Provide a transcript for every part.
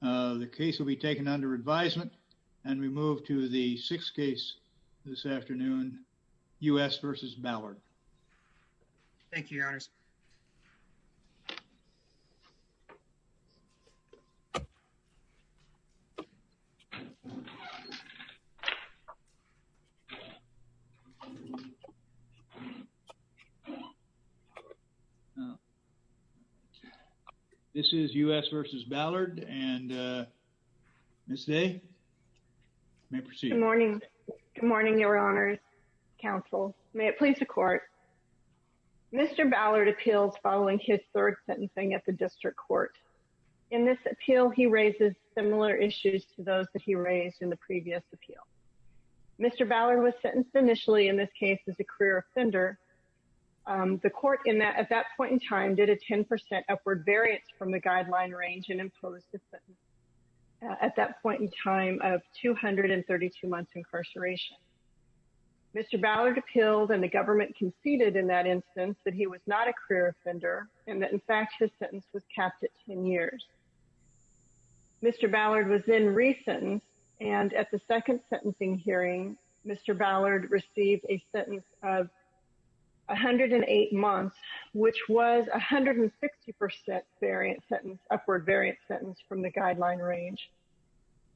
the case will be taken under advisement and we move to the sixth case this morning, your honors counsel may it please the court. Mr. Ballard appeals following his third sentencing at the district court. In this appeal, he raises similar issues to those that he raised in the previous appeal. Mr. Ballard was sentenced initially in this case as a career offender. The court in that at that point in time did a 10% upward variance from the guideline range and imposed a sentence at that point in time of 232 months incarceration. Mr. Ballard appealed and the government conceded in that instance that he was not a career offender and that in fact his sentence was capped at 10 years. Mr. Ballard was then re-sentenced and at the second sentencing hearing, Mr. Ballard received a sentence of 108 months which was a 160% variant sentence, upward variant sentence from the guideline range.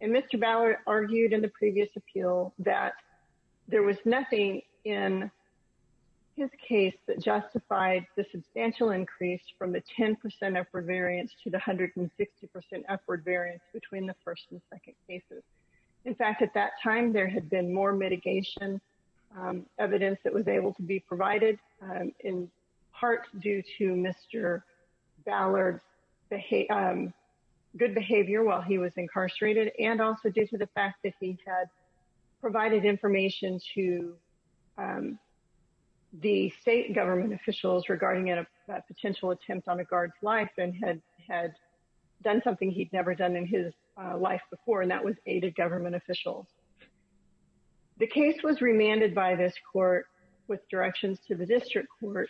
And Mr. Ballard argued in the previous appeal that there was nothing in his case that justified the substantial increase from the 10% upward variance to the 160% upward variance between the first and second cases. In fact at that time there had been more mitigation evidence that was due to Mr. Ballard's good behavior while he was incarcerated and also due to the fact that he had provided information to the state government officials regarding a potential attempt on a guard's life and had done something he'd never done in his life before and that was aided government officials. The case was remanded by this court with directions to the district court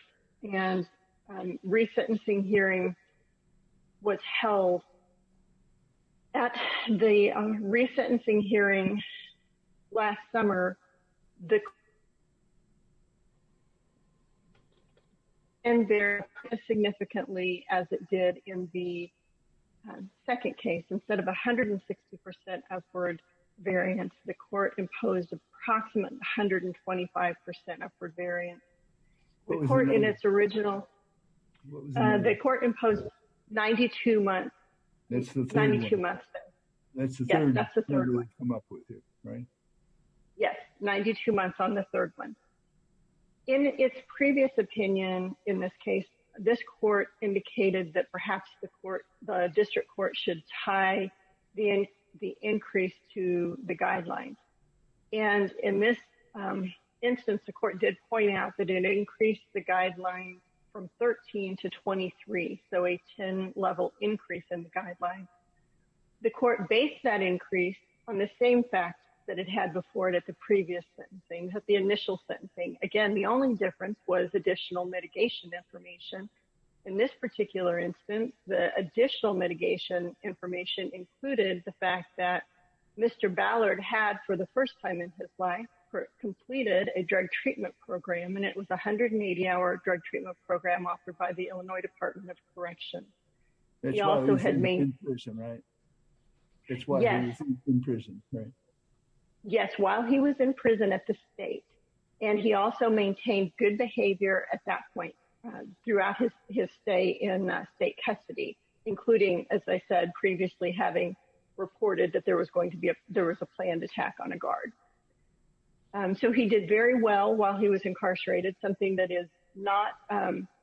and re-sentencing hearing was held. At the re-sentencing hearing last summer, and very significantly as it did in the second case, instead of 160% upward variance, the court imposed approximately 125% upward variance. The court imposed 92 months on the third one. In its previous opinion in this case, this court indicated that perhaps the district court should tie the increase to the guidelines and in this instance the court did point out that it increased the guidelines from 13 to 23, so a 10 level increase in the guidelines. The court based that increase on the same facts that it had before it at the previous sentencing, at the initial sentencing. Again the only difference was additional mitigation information. In this particular instance the additional mitigation information included the fact that Mr. Ballard had for the first time in his life completed a drug treatment program and it was a 180-hour drug treatment program offered by the Illinois Department of Corrections. That's why he was in prison, right? That's why he was in prison, right? Yes, while he was in prison at the state and he also maintained good behavior at that point throughout his stay in state custody including, as I said previously, having reported that there was going to be a planned attack on a guard. So he did very well while he was incarcerated, something that is not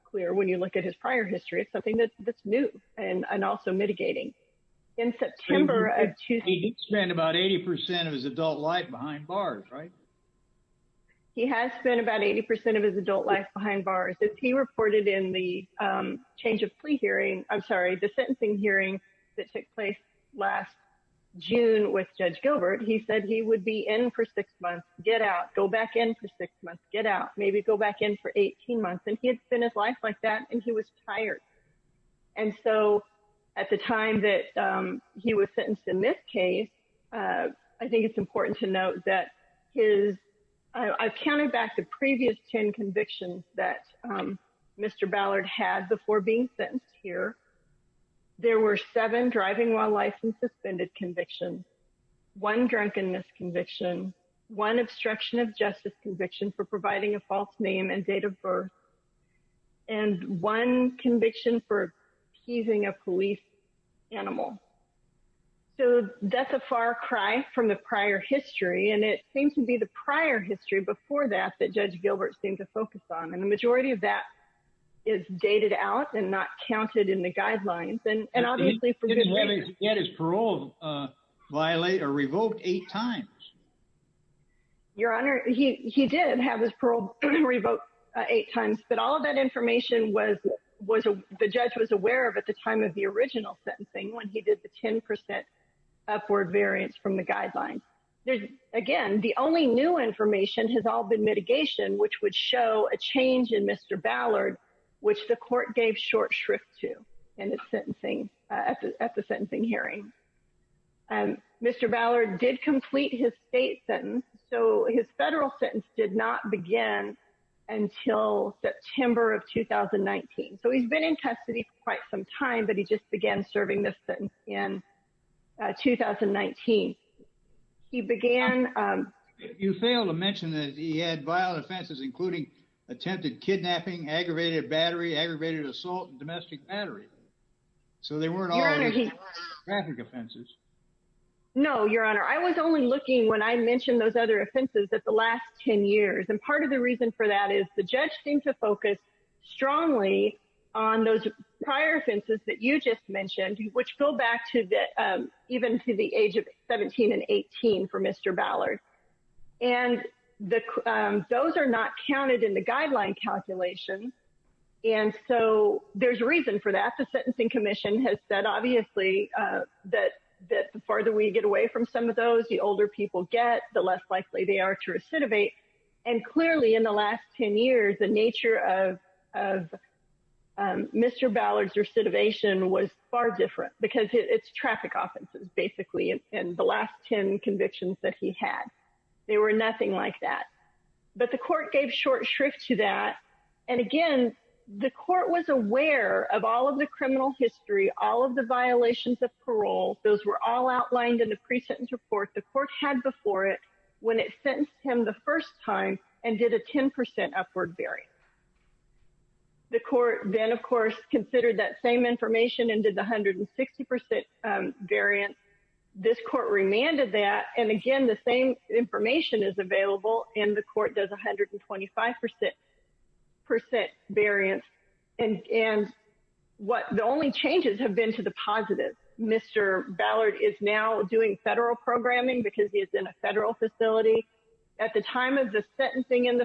clear when you look at his prior history. It's something that's new and also mitigating. In September of 2008... He did spend about 80% of his adult life behind bars, right? He has spent about 80% of his adult life behind bars. As he reported in the change of plea hearing, I'm sorry, the sentencing hearing that took place last June with Judge Gilbert, he said he would be in for six months, get out, go back in for six months, get out, maybe go back in for 18 months. And he had spent his life like that and he was tired. And so at the time that he was sentenced in this case, I think it's important to note that his... I've counted back the previous 10 convictions that Mr. Ballard had before being sentenced here. There were seven driving while licensed and suspended convictions, one drunkenness conviction, one obstruction of justice conviction for providing a false name and date of birth, and one conviction for appeasing a police animal. So that's a far cry from the prior history. And it seems to be the prior history before that, that Judge Gilbert seemed to focus on. And the majority of that is dated out and not counted in the guidelines. And obviously... He didn't let his parole violate or revoke eight times. Your Honor, he did have his parole revoked eight times, but all of that information was... The judge was aware of at the time of the original sentencing when he did the 10% upward variance from the guidelines. Again, the only new information has all been mitigation, which would show a change in Mr. Ballard, which the court gave short shrift to at the sentencing hearing. Mr. Ballard did complete his state sentence. So his federal sentence did not begin until September of 2019. So he's been in custody for quite some time, but he just began serving this sentence in 2019. He began... You failed to mention that he had violent offenses, including attempted kidnapping, aggravated battery, aggravated assault, and domestic battery. So they weren't all graphic offenses. No, Your Honor. I was only looking when I mentioned those other offenses at the last 10 years. And part of the reason for that is the judge seemed to focus strongly on those prior offenses that you just mentioned, which go back to even to the age of 17 and 18 for Mr. Ballard. And those are not counted in the guideline calculation. And so there's a reason for that. The sentencing commission has said, obviously, that the farther we get away from some of those, the older people get, the less likely they are to recidivate. And clearly in the last 10 years, the nature of Mr. Ballard's recidivation was far different because it's traffic offenses, basically, in the last 10 convictions that he had. They were nothing like that. But the court gave short shrift to that. And again, the court was aware of all of the criminal history, all of the violations of parole. Those were all outlined in the pre-sentence report the court had before it when it sentenced him the first time and did a 10% upward variance. The court then, of course, considered that same information and did the 160% variance. This court remanded that. And again, the same information is available, and the court does 125% variance. And the only changes have been to the positive. Mr. Ballard is now doing federal programming because he is in a federal facility. The third sentencing in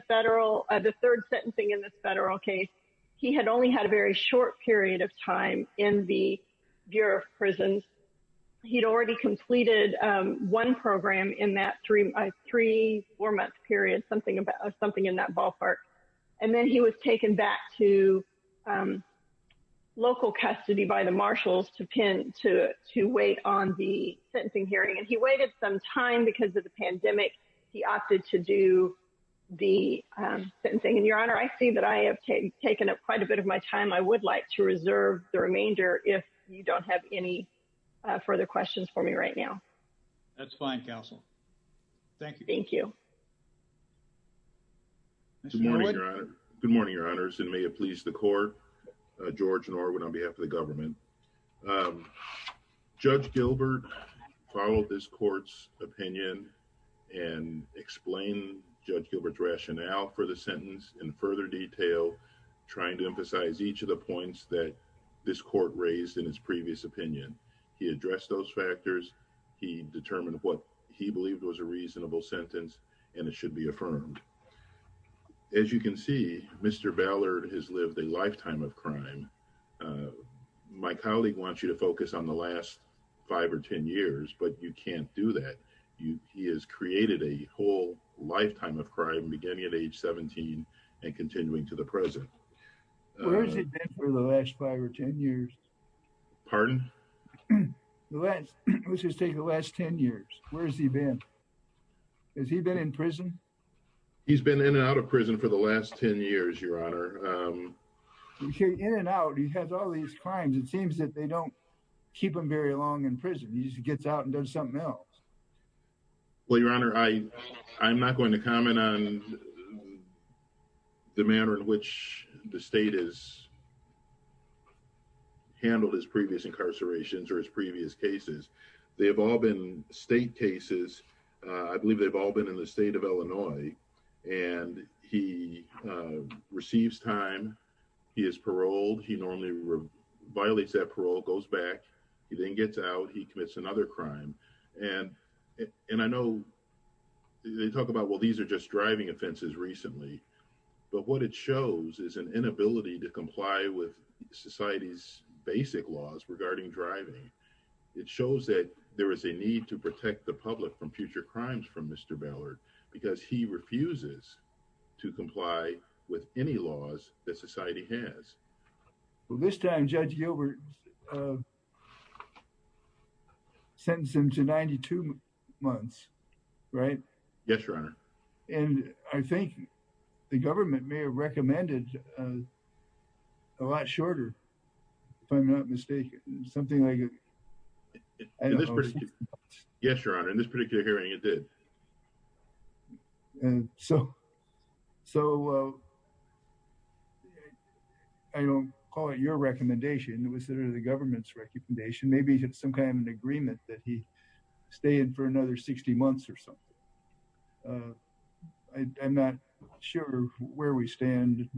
this federal case, he had only had a very short period of time in the Bureau of Prisons. He'd already completed one program in that three-four-month period, something in that ballpark. And then he was taken back to local custody by the marshals to wait on the sentencing hearing. And he waited some time because of the pandemic. He opted to do the sentencing. And, Your Honor, I see that I have taken up quite a bit of my time. I would like to reserve the remainder if you don't have any further questions for me right now. That's fine, counsel. Thank you. Thank you. Good morning, Your Honors, and may it please the court. George Norwood on behalf of the government. Judge Gilbert followed this court's opinion and explained Judge Gilbert's rationale for the that this court raised in its previous opinion. He addressed those factors. He determined what he believed was a reasonable sentence and it should be affirmed. As you can see, Mr. Ballard has lived a lifetime of crime. My colleague wants you to focus on the last five or 10 years, but you can't do that. He has created a whole lifetime of crime beginning at age 17 and continuing to the present. Where has he been for the last five or 10 years? Pardon? Let's just take the last 10 years. Where has he been? Has he been in prison? He's been in and out of prison for the last 10 years, Your Honor. In and out, he has all these crimes. It seems that they don't keep him very long in prison. He just gets out and does something else. Well, Your Honor, I'm not going to comment on the manner in which the state has handled his previous incarcerations or his previous cases. They have all been state cases. I believe they've all been in the state of Illinois and he receives time. He is paroled. He normally violates that parole, goes back. He then gets out. He commits another crime. And I know they talk about, well, these are just driving offenses recently, but what it shows is an inability to comply with society's basic laws regarding driving. It shows that there is a need to protect the public from future crimes from Mr. Ballard because he refuses to comply with any laws that society has. Well, this time, Judge Gilbert sentenced him to 92 months, right? Yes, Your Honor. And I think the government may have recommended a lot shorter, if I'm not mistaken. Something like... Yes, Your Honor. In this particular hearing, it did. So, I don't call it your recommendation. It was the government's recommendation. Maybe it's some kind of an agreement that he stay in for another 60 months or something. I'm not sure where we stand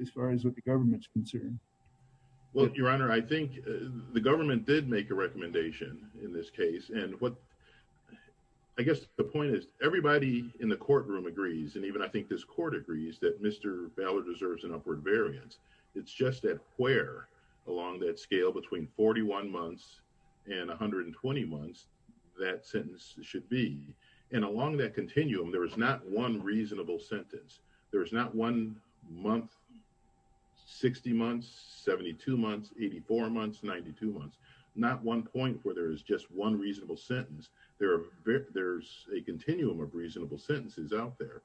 as far as what the government's concerned. Well, Your Honor, I think the government did make a recommendation in this case. And I guess the point is everybody in the courtroom agrees, and even I think this court agrees, that Mr. Ballard deserves an upward variance. It's just that where along that scale between 41 months and 120 months, that sentence should be. And along that continuum, there is not one reasonable sentence. There is not one month, 60 months, 72 months, 84 months, 92 months. Not one point where there is just one reasonable sentence. There's a continuum of reasonable sentences out there.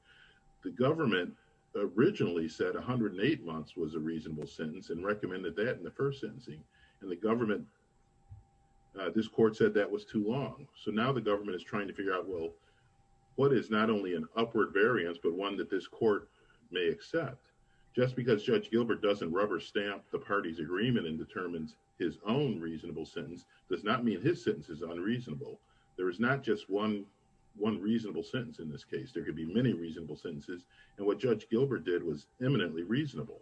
The government originally said 108 months was a reasonable sentence and recommended that in the first sentencing. And the government... This court said that was too long. So now the government is trying to figure out, well, what is not only an upward variance, but one that this court may accept. Just because Judge Gilbert doesn't rubber stamp the party's agreement and determines his own reasonable sentence does not mean his sentence is unreasonable. There is not just one reasonable sentence in this case. There could be many reasonable sentences. And what Judge Gilbert did was eminently reasonable.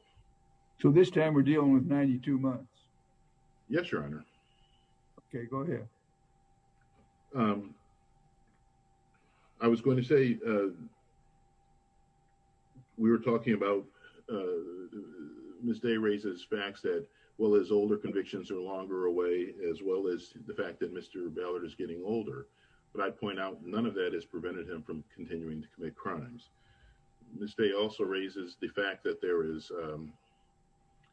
So this time we're dealing with 92 months? Yes, Your Honor. Okay, go ahead. I was going to say... We were talking about... Ms. Day raises facts that, well, his older convictions are longer away, as well as the fact that Mr. Ballard is getting older. But I'd point out none of that has prevented him from continuing to commit crimes. Ms. Day also raises the fact that there is...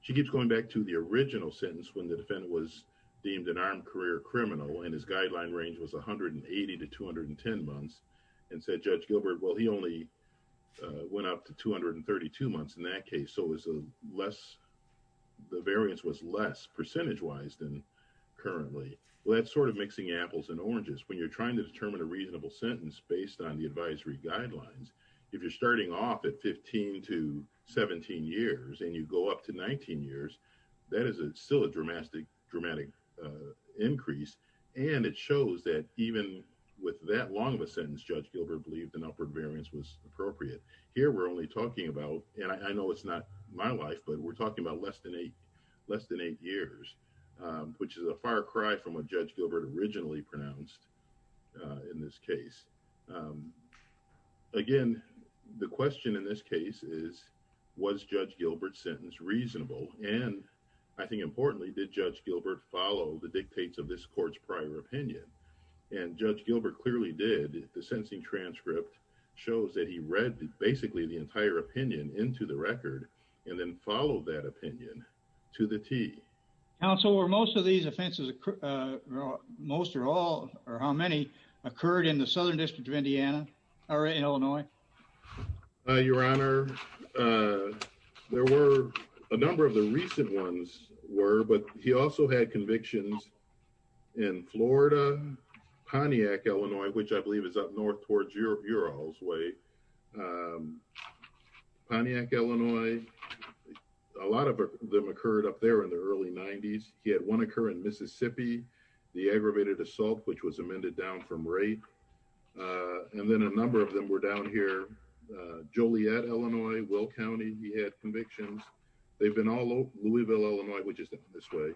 She keeps going back to the original sentence when the defendant was deemed an armed career criminal and his guideline range was 180 to 210 months and said, well, he only went up to 232 months in that case. So the variance was less percentage-wise than currently. Well, that's sort of mixing apples and oranges. When you're trying to determine a reasonable sentence based on the advisory guidelines, if you're starting off at 15 to 17 years and you go up to 19 years, that is still a dramatic increase. And it shows that even with that long of a sentence, Judge Gilbert believed an upward variance was appropriate. Here, we're only talking about... And I know it's not my life, but we're talking about less than eight years, which is a far cry from what Judge Gilbert originally pronounced in this case. Again, the question in this case is, was Judge Gilbert's sentence reasonable? And I think importantly, did Judge Gilbert follow the dictates of this court's prior opinion? And Judge Gilbert clearly did. The sentencing transcript shows that he read basically the entire opinion into the record and then followed that opinion to the T. JUDGE LEBEN Counsel, were most of these offenses... Most or all or how many occurred in the Southern District of Indiana or Illinois? Your Honor, there were... A number of the recent ones were, but he also had convictions in Florida, Pontiac, Illinois, which I believe is up north towards Ural's Way. Pontiac, Illinois, a lot of them occurred up there in the early 90s. He had one occur in Mississippi, the aggravated assault, which was amended down from rate. Uh, and then a number of them were down here. Joliet, Illinois, Will County, he had convictions. They've been all over Louisville, Illinois, which is this way.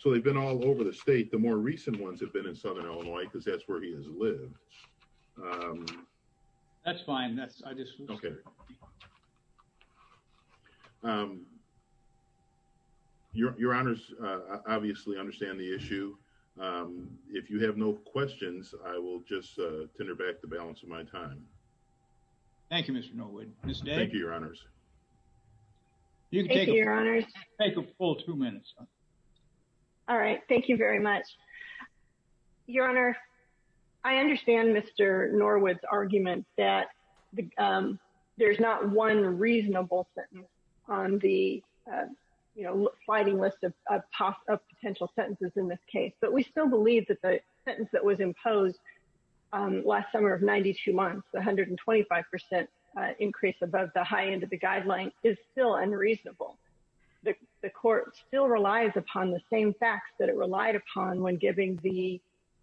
So they've been all over the state. The more recent ones have been in Southern Illinois because that's where he has lived. That's fine. That's, I just, okay. Um, your, your honors, uh, obviously understand the issue. Um, if you have no questions, I will just, uh, tender back the balance of my time. Thank you, Mr. Norwood. Thank you, your honors. You can take a full two minutes. All right. Thank you very much, your honor. I understand Mr. Norwood's argument that, um, there's not one reasonable sentence on the, uh, you know, sliding list of, of possible, of potential sentences in this case. But we still believe that the sentence that was imposed, um, last summer of 92 months, the 125%, uh, increase above the high end of the guideline is still unreasonable. The court still relies upon the same facts that it relied upon when giving the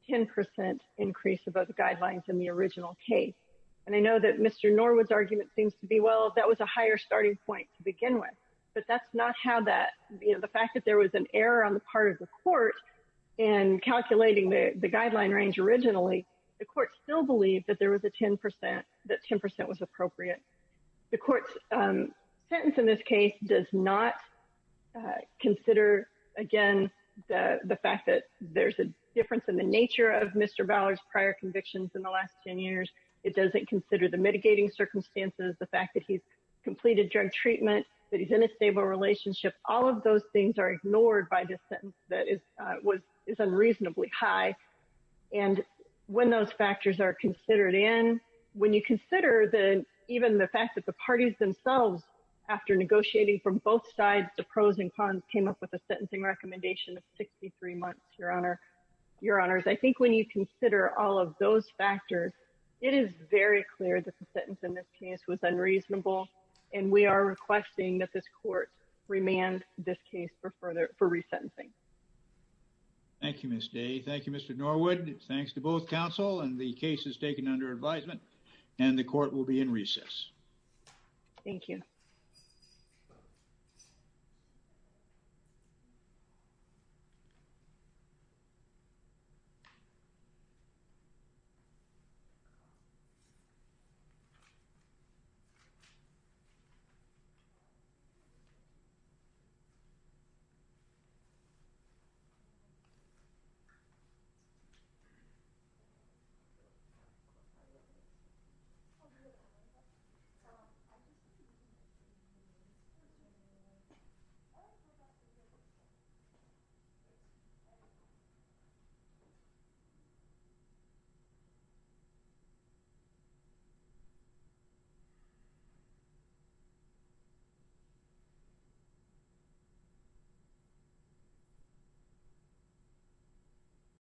10% increase above the guidelines in the original case. And I know that Mr. Norwood's argument seems to be, well, that was a higher starting point to begin with. But that's not how that, you know, the fact that there was an error on the part of the court in calculating the, the guideline range originally, the court still believed that there was a 10%, that 10% was appropriate. The court's, um, sentence in this case does not, uh, consider, again, the, the fact that there's a difference in the nature of Mr. Ballard's prior convictions in the last 10 years. It doesn't consider the mitigating circumstances, the fact that he's completed drug treatment, that he's in a stable relationship. All of those things are ignored by this sentence that is, uh, was, is unreasonably high. And when those factors are considered in, when you consider the, even the fact that the parties themselves, after negotiating from both sides, the pros and cons came up with a sentencing recommendation of 63 months, Your Honor. Your Honors, I think when you consider all of those factors, it is very clear that the sentence in this case was unreasonable. And we are requesting that this court remand this case for further, for resentencing. Thank you, Ms. Day. Thank you, Mr. Norwood. Thanks to both counsel and the cases taken under advisement. And the court will be in recess. Thank you. Thank you. Thank you.